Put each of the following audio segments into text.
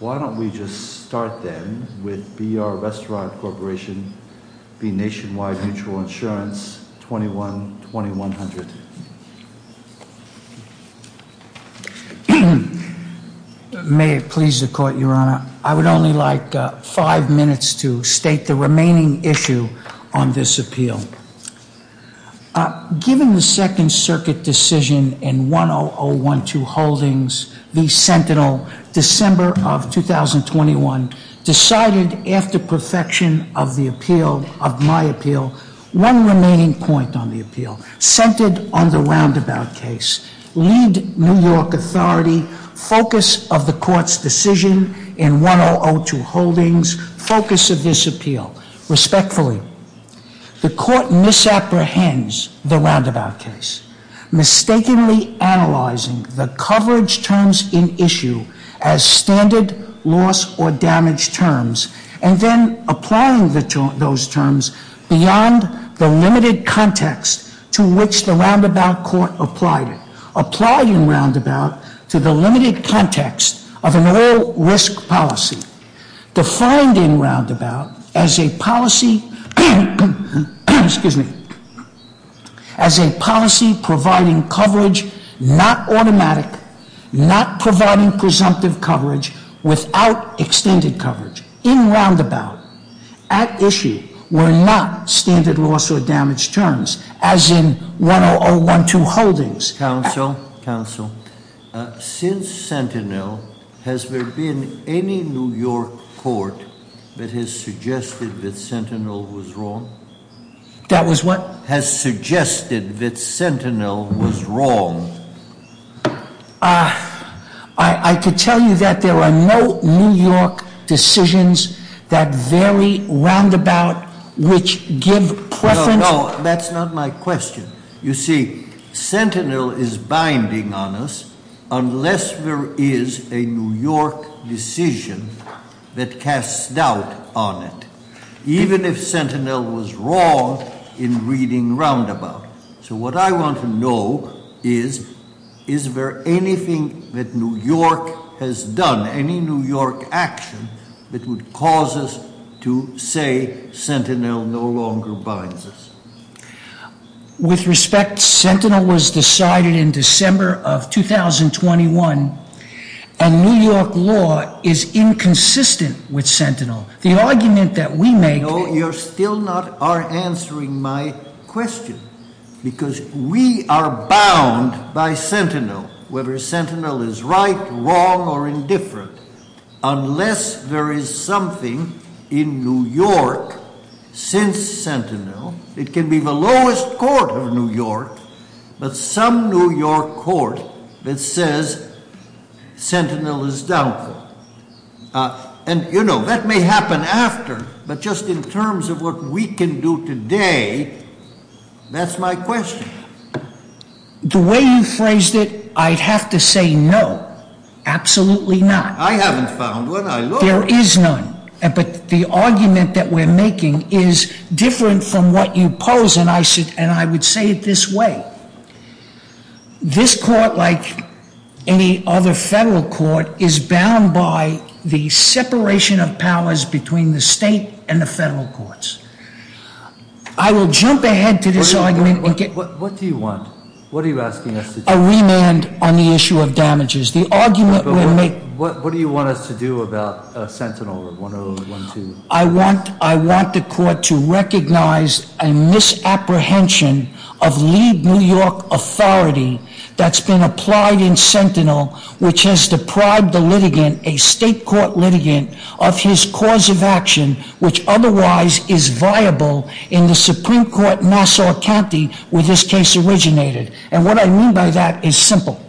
21-2100. May it please the Court, Your Honor. I would only like five minutes to state the remaining issue on this appeal. Given the Second Circuit decision in 10012 Holdings v. Sentinel in December of 2011, the Court of Appeals has decided that the Court of Appeals has decided that the Court of Appeals has December 26th of 2021 decided, after perfection of my appeal, one remaining point on the appeal. Centered on the Roundabout case. Lead New York Authority, focus of the Court s decision in 1002 Holdings, focus of this appeal. Respectfully, the Court misapprehends the Roundabout case, mistakenly analyzing the coverage terms in issue as standard loss or damage terms, and then applying those terms beyond the limited context to which the Roundabout Court applied it. In addition, the Court misapprehends the Roundabout case, misapprehending the Roundabout to the limited context of an all-risk policy, defined in Roundabout as a policy providing coverage not automatic, not providing presumptive coverage without extended coverage, in Roundabout, at issue, were not standard loss or damage terms, as in 1002 Holdings. Counsel, Counsel, since Sentinel, has there been any New York court that has suggested that Sentinel was wrong? That was what? Has suggested that Sentinel was wrong. I could tell you that there are no New York decisions that vary Roundabout, which give preference. No, that's not my question. You see, Sentinel is binding on us unless there is a New York decision that casts doubt on it, even if Sentinel was wrong in reading Roundabout. So what I want to know is, is there anything that New York has done, any New York action that would cause us to say Sentinel no longer binds us? With respect, Sentinel was decided in December of 2021, and New York law is inconsistent with Sentinel. You know, you're still not answering my question, because we are bound by Sentinel, whether Sentinel is right, wrong, or indifferent, unless there is something in New York since Sentinel. It can be the lowest court of New York, but some New York court that says Sentinel is doubtful. And, you know, that may happen after, but just in terms of what we can do today, that's my question. The way you phrased it, I'd have to say no, absolutely not. I haven't found one. I looked. There is none, but the argument that we're making is different from what you pose, and I would say it this way. This court, like any other federal court, is bound by the separation of powers between the state and the federal courts. I will jump ahead to this argument. What do you want? What are you asking us to do? A remand on the issue of damages. What do you want us to do about Sentinel? I want the court to recognize a misapprehension of lead New York authority that's been applied in Sentinel, which has deprived the litigant, a state court litigant, of his cause of action, which otherwise is viable in the Supreme Court in Nassau County where this case originated. And what I mean by that is simple.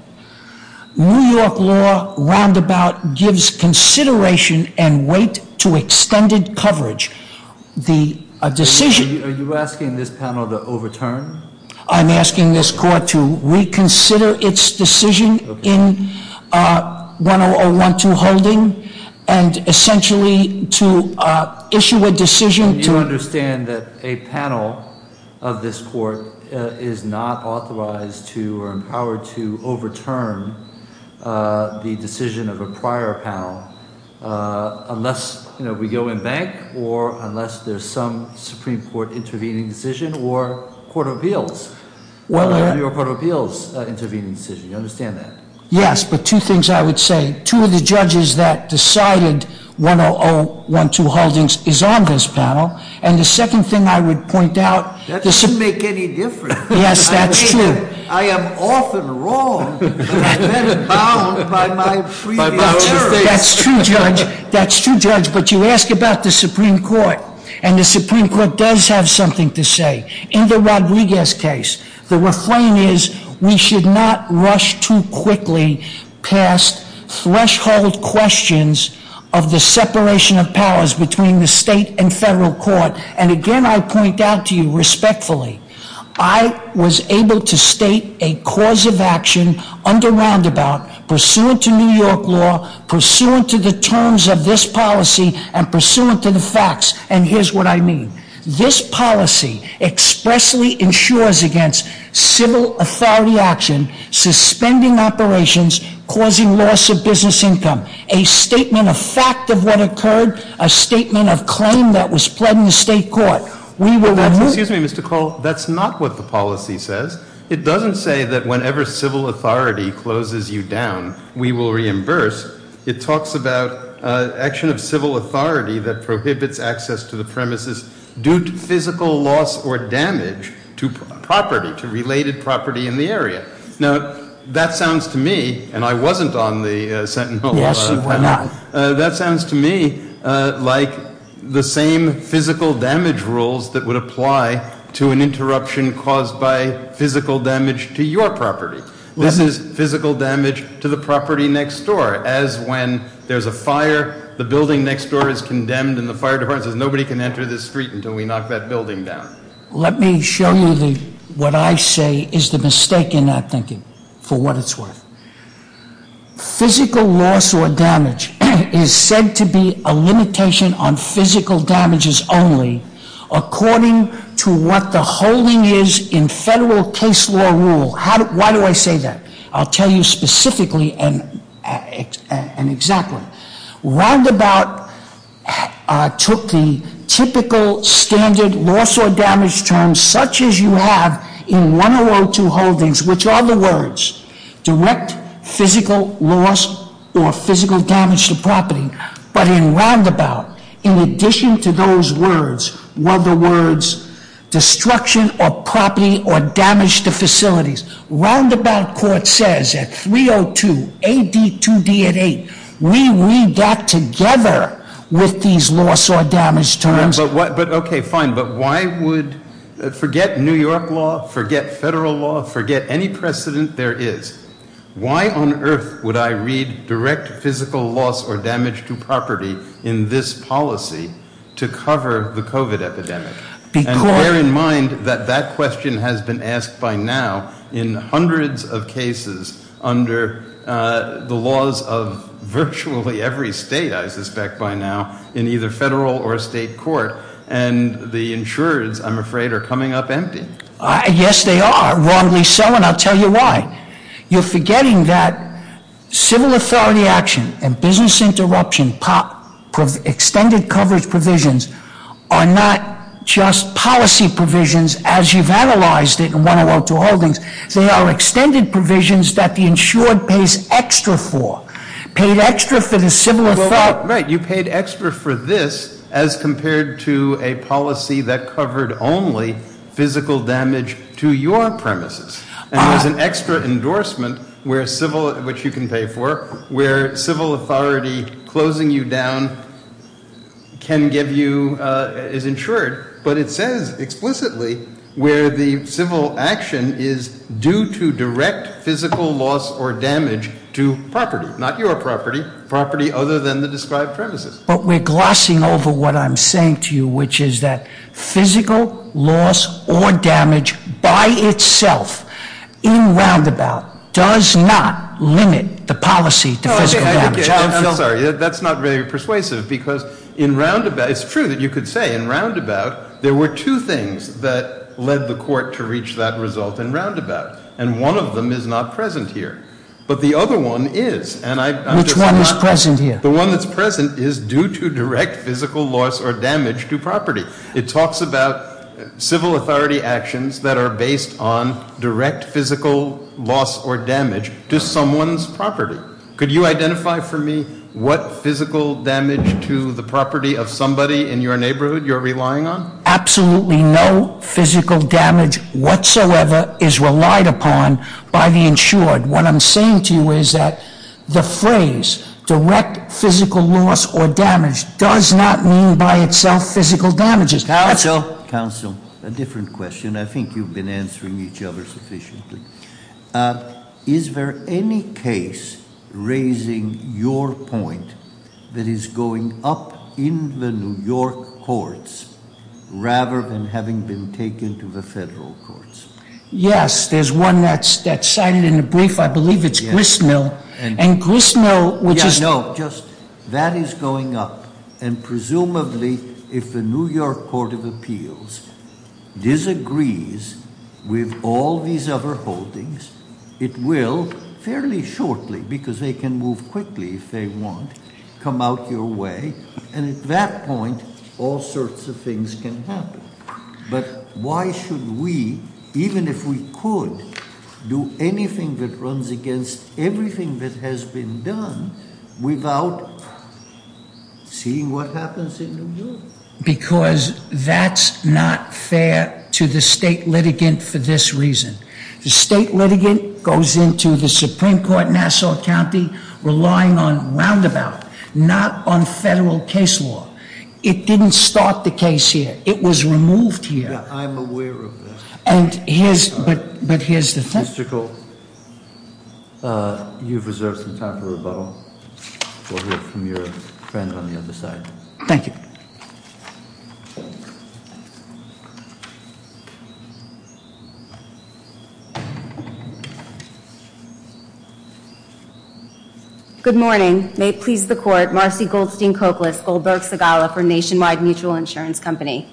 New York law roundabout gives consideration and weight to extended coverage. The decision- Are you asking this panel to overturn? I'm asking this court to reconsider its decision in 10012 holding and essentially to issue a decision to- This court is not authorized to or empowered to overturn the decision of a prior panel unless, you know, we go in bank or unless there's some Supreme Court intervening decision or court of appeals, whether it be a court of appeals intervening decision. Do you understand that? Yes, but two things I would say. Two of the judges that decided 10012 holdings is on this panel, and the second thing I would point out- That doesn't make any difference. Yes, that's true. I am often wrong, but I've been bound by my freedom of error. That's true, Judge. That's true, Judge. But you ask about the Supreme Court, and the Supreme Court does have something to say. In the Rodriguez case, the refrain is, we should not rush too quickly past threshold questions of the separation of powers between the state and federal court. And again, I point out to you respectfully, I was able to state a cause of action under roundabout, pursuant to New York law, pursuant to the terms of this policy, and pursuant to the facts. And here's what I mean. This policy expressly insures against civil authority action, suspending operations, causing loss of business income. A statement of fact of what occurred, a statement of claim that was pled in the state court. We will- Excuse me, Mr. Call. That's not what the policy says. It doesn't say that whenever civil authority closes you down, we will reimburse. It talks about action of civil authority that prohibits access to the premises due to physical loss or damage to property, to related property in the area. Now, that sounds to me, and I wasn't on the sentinel panel. Yes, you were not. That sounds to me like the same physical damage rules that would apply to an interruption caused by physical damage to your property. This is physical damage to the property next door, as when there's a fire, the building next door is condemned, and the fire department says nobody can enter this street until we knock that building down. Let me show you what I say is the mistake in that thinking, for what it's worth. Physical loss or damage is said to be a limitation on physical damages only according to what the holding is in federal case law rule. Why do I say that? I'll tell you specifically and exactly. Roundabout took the typical standard loss or damage terms such as you have in 1002 holdings, which are the words direct physical loss or physical damage to property. But in Roundabout, in addition to those words, were the words destruction of property or damage to facilities. Roundabout court says at 302, AD 2D at 8, we got together with these loss or damage terms. But, okay, fine, but why would, forget New York law, forget federal law, forget any precedent there is. Why on earth would I read direct physical loss or damage to property in this policy to cover the COVID epidemic? And bear in mind that that question has been asked by now in hundreds of cases under the laws of virtually every state, I suspect, by now in either federal or state court. And the insurers, I'm afraid, are coming up empty. Yes, they are. Wrongly so, and I'll tell you why. You're forgetting that civil authority action and business interruption, extended coverage provisions are not just policy provisions as you've analyzed it in 102 holdings. They are extended provisions that the insured pays extra for. Paid extra for the civil authority. Right, you paid extra for this as compared to a policy that covered only physical damage to your premises. And there's an extra endorsement where civil, which you can pay for, where civil authority closing you down can give you, is insured. But it says explicitly where the civil action is due to direct physical loss or damage to property, not your property, property other than the described premises. But we're glossing over what I'm saying to you, which is that physical loss or damage by itself in roundabout does not limit the policy to physical damage. I'm sorry, that's not very persuasive because in roundabout, it's true that you could say in roundabout, there were two things that led the court to reach that result in roundabout. And one of them is not present here. But the other one is. Which one is present here? The one that's present is due to direct physical loss or damage to property. It talks about civil authority actions that are based on direct physical loss or damage to someone's property. Could you identify for me what physical damage to the property of somebody in your neighborhood you're relying on? Absolutely no physical damage whatsoever is relied upon by the insured. What I'm saying to you is that the phrase direct physical loss or damage does not mean by itself physical damages. Counsel. Counsel. A different question. I think you've been answering each other sufficiently. Is there any case, raising your point, that is going up in the New York courts rather than having been taken to the federal courts? Yes, there's one that's cited in the brief. I believe it's Gristmill. And Gristmill, which is- Yeah, no, just that is going up. And presumably, if the New York Court of Appeals disagrees with all these other holdings, it will fairly shortly, because they can move quickly if they want, come out your way. And at that point, all sorts of things can happen. But why should we, even if we could, do anything that runs against everything that has been done without seeing what happens in New York? Because that's not fair to the state litigant for this reason. The state litigant goes into the Supreme Court in Nassau County relying on roundabout, not on federal case law. It didn't start the case here. It was removed here. Yeah, I'm aware of that. But here's the thing- Mr. Gould, you've reserved some time for rebuttal. We'll hear from your friend on the other side. Thank you. Good morning. May it please the Court, Marcy Goldstein-Cocliss, Goldberg-Segala for Nationwide Mutual Insurance Company.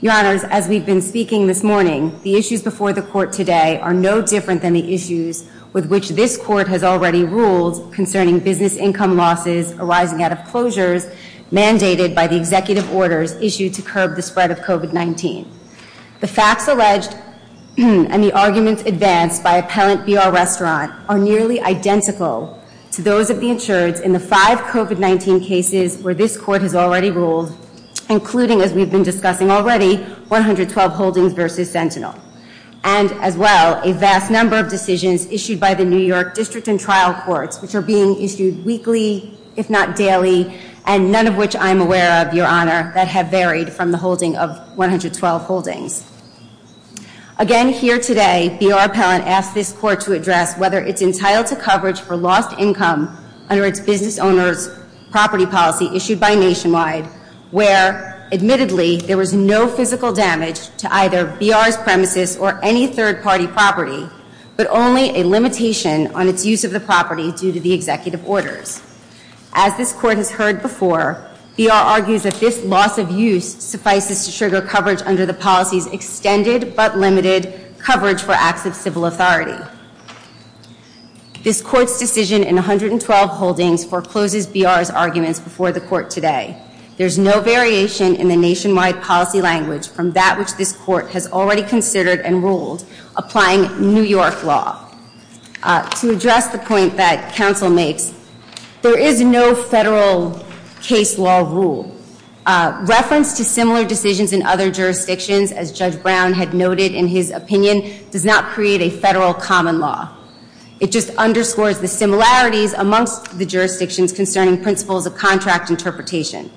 Your Honors, as we've been speaking this morning, the issues before the Court today are no different than the issues with which this Court has already ruled concerning business income losses arising out of closures mandated by the executive orders issued to curb the spread of COVID-19. The facts alleged and the arguments advanced by Appellant B.R. Restaurant are nearly identical to those of the insureds in the five COVID-19 cases where this Court has already ruled, including, as we've been discussing already, 112 Holdings v. Sentinel. And, as well, a vast number of decisions issued by the New York District and Trial Courts, which are being issued weekly, if not daily, and none of which I'm aware of, Your Honor, that have varied from the holding of 112 Holdings. Again, here today, B.R. Appellant asked this Court to address whether it's entitled to coverage for lost income under its business owners' property policy issued by Nationwide, where, admittedly, there was no physical damage to either B.R.'s premises or any third-party property, but only a limitation on its use of the property due to the executive orders. As this Court has heard before, B.R. argues that this loss of use suffices to trigger coverage under the policy's extended but limited coverage for acts of civil authority. This Court's decision in 112 Holdings forecloses B.R.'s arguments before the Court today. There's no variation in the Nationwide policy language from that which this Court has already considered and ruled, applying New York law. To address the point that counsel makes, there is no federal case law rule. Reference to similar decisions in other jurisdictions, as Judge Brown had noted in his opinion, does not create a federal common law. It just underscores the similarities amongst the jurisdictions concerning principles of contract interpretation.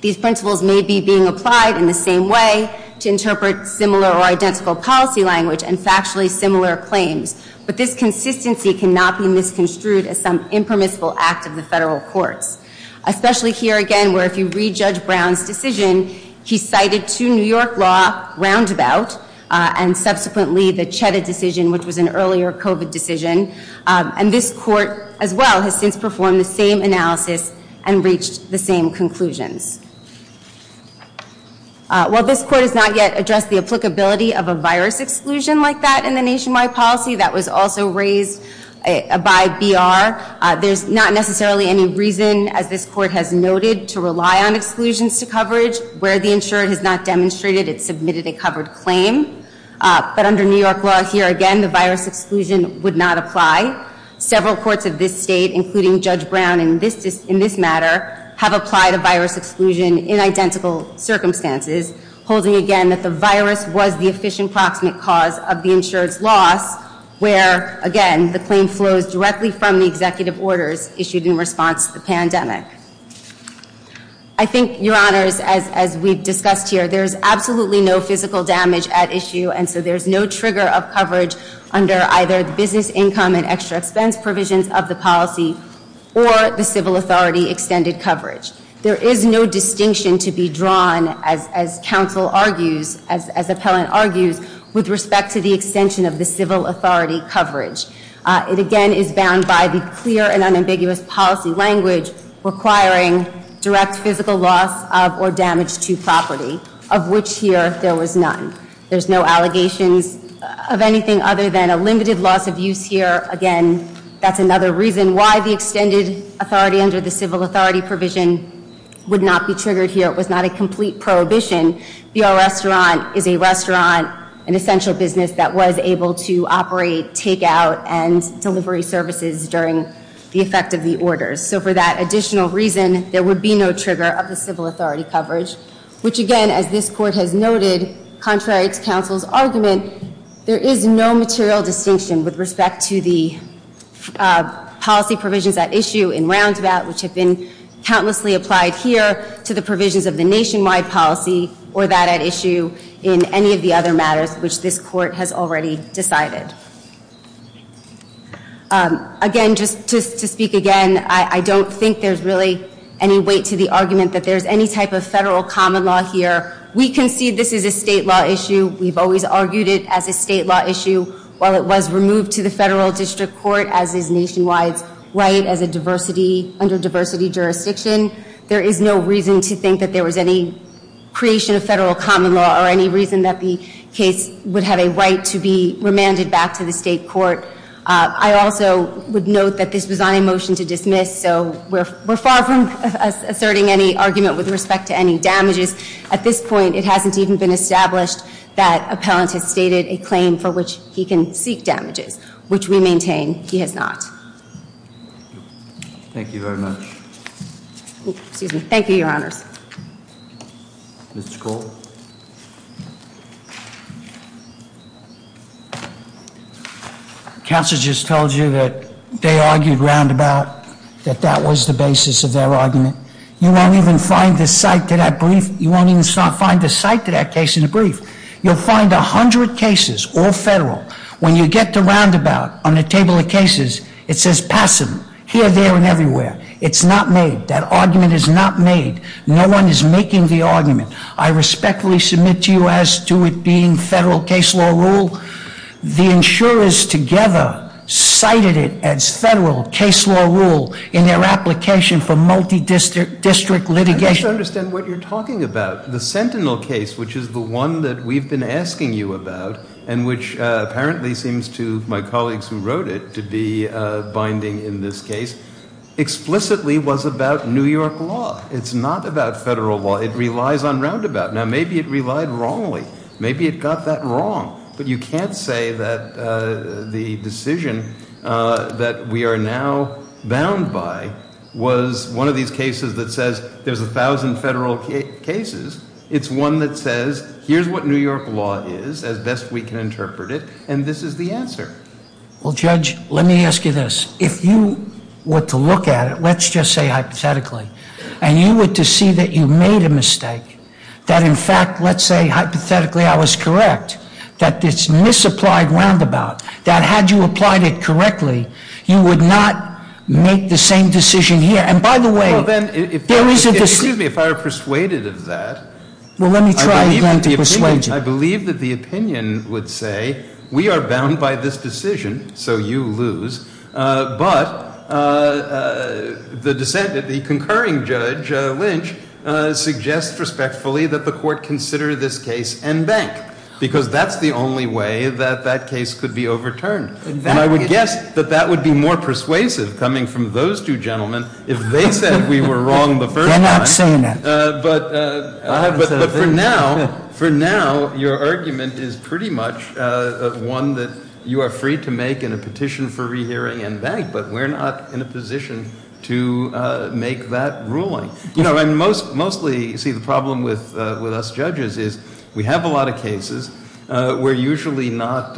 These principles may be being applied in the same way to interpret similar or identical policy language and factually similar claims, but this consistency cannot be misconstrued as some impermissible act of the federal courts. Especially here again, where if you read Judge Brown's decision, he cited two New York law roundabout and subsequently the Cheda decision, which was an earlier COVID decision. And this Court, as well, has since performed the same analysis and reached the same conclusions. While this Court has not yet addressed the applicability of a virus exclusion like that in the Nationwide policy, that was also raised by B.R., there's not necessarily any reason, as this Court has noted, to rely on exclusions to coverage. Where the insured has not demonstrated, it submitted a covered claim. But under New York law here again, the virus exclusion would not apply. Several courts of this state, including Judge Brown in this matter, have applied a virus exclusion in identical circumstances, holding again that the virus was the efficient proximate cause of the insured's loss, where again, the claim flows directly from the executive orders issued in response to the pandemic. I think, Your Honors, as we've discussed here, there's absolutely no physical damage at issue, and so there's no trigger of coverage under either the business income and extra expense provisions of the policy or the civil authority extended coverage. There is no distinction to be drawn, as counsel argues, as appellant argues, with respect to the extension of the civil authority coverage. It again is bound by the clear and unambiguous policy language requiring direct physical loss of or damage to property, of which here there was none. There's no allegations of anything other than a limited loss of use here. Again, that's another reason why the extended authority under the civil authority provision would not be triggered here. It was not a complete prohibition. B.R. Restaurant is a restaurant, an essential business that was able to operate takeout and delivery services during the effect of the orders. So for that additional reason, there would be no trigger of the civil authority coverage, which again, as this Court has noted, contrary to counsel's argument, there is no material distinction with respect to the policy provisions at issue in roundabout, which have been countlessly applied here to the provisions of the nationwide policy or that at issue in any of the other matters which this Court has already decided. Again, just to speak again, I don't think there's really any weight to the argument that there's any type of federal common law here. We concede this is a state law issue. We've always argued it as a state law issue. While it was removed to the federal district court as is nationwide's right under diversity jurisdiction, there is no reason to think that there was any creation of federal common law or any reason that the case would have a right to be remanded back to the state court. I also would note that this was on a motion to dismiss, so we're far from asserting any argument with respect to any damages. At this point, it hasn't even been established that appellant has stated a claim for which he can seek damages, which we maintain he has not. Thank you very much. Thank you, Your Honors. Mr. Cole? Counsel just told you that they argued roundabout, that that was the basis of their argument. You won't even find the cite to that brief. You won't even find the cite to that case in the brief. You'll find a hundred cases, all federal. When you get to roundabout on the table of cases, it says passive here, there, and everywhere. It's not made. That argument is not made. No one is making the argument. I respectfully submit to you as to it being federal case law rule. The insurers together cited it as federal case law rule in their application for multidistrict litigation. I just don't understand what you're talking about. The Sentinel case, which is the one that we've been asking you about, and which apparently seems to my colleagues who wrote it to be binding in this case, explicitly was about New York law. It's not about federal law. It relies on roundabout. Now, maybe it relied wrongly. Maybe it got that wrong, but you can't say that the decision that we are now bound by was one of these cases that says there's a thousand federal cases. It's one that says here's what New York law is, as best we can interpret it, and this is the answer. Well, Judge, let me ask you this. If you were to look at it, let's just say hypothetically, and you were to see that you made a mistake, that in fact, let's say hypothetically I was correct, that this misapplied roundabout, that had you applied it correctly, you would not make the same decision here. And by the way, there is a decision. Well, then, excuse me, if I were persuaded of that. Well, let me try again to persuade you. I believe that the opinion would say we are bound by this decision, so you lose, but the concurring judge, Lynch, suggests respectfully that the court consider this case en banc, because that's the only way that that case could be overturned. And I would guess that that would be more persuasive, coming from those two gentlemen, if they said we were wrong the first time. They're not saying that. But for now, your argument is pretty much one that you are free to make in a petition for rehearing en banc, but we're not in a position to make that ruling. You know, and mostly, you see, the problem with us judges is we have a lot of cases. We're usually not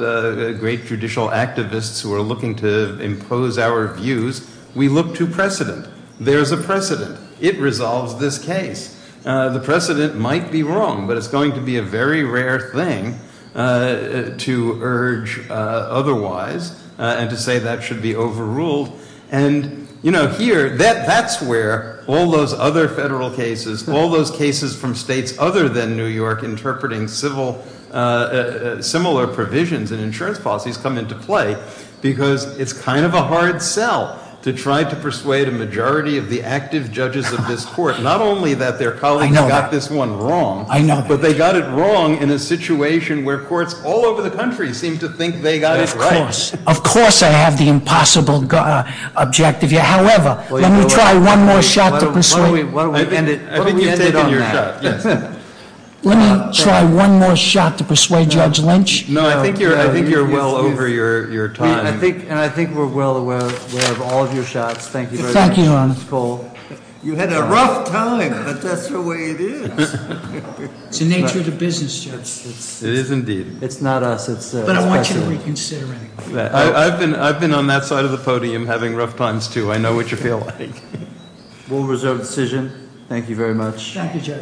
great judicial activists who are looking to impose our views. We look to precedent. There's a precedent. It resolves this case. The precedent might be wrong, but it's going to be a very rare thing to urge otherwise and to say that should be overruled. And, you know, here, that's where all those other federal cases, all those cases from states other than New York interpreting similar provisions in insurance policies come into play, because it's kind of a hard sell to try to persuade a majority of the active judges of this court, not only that their colleagues got this one wrong, but they got it wrong in a situation where courts all over the country seem to think they got it right. Of course. Of course I have the impossible objective here. However, let me try one more shot to persuade you. Why don't we end it on that? I think you've taken your shot, yes. Let me try one more shot to persuade Judge Lynch. No, I think you're well over your time. And I think we're well aware of all of your shots. Thank you very much, Judge Cole. You had a rough time, but that's the way it is. It's the nature of the business, Judge. It is indeed. It's not us. But I want you to reconsider it. I've been on that side of the podium having rough times, too. I know what you feel like. We'll reserve the decision. Thank you very much. Thank you, Judge.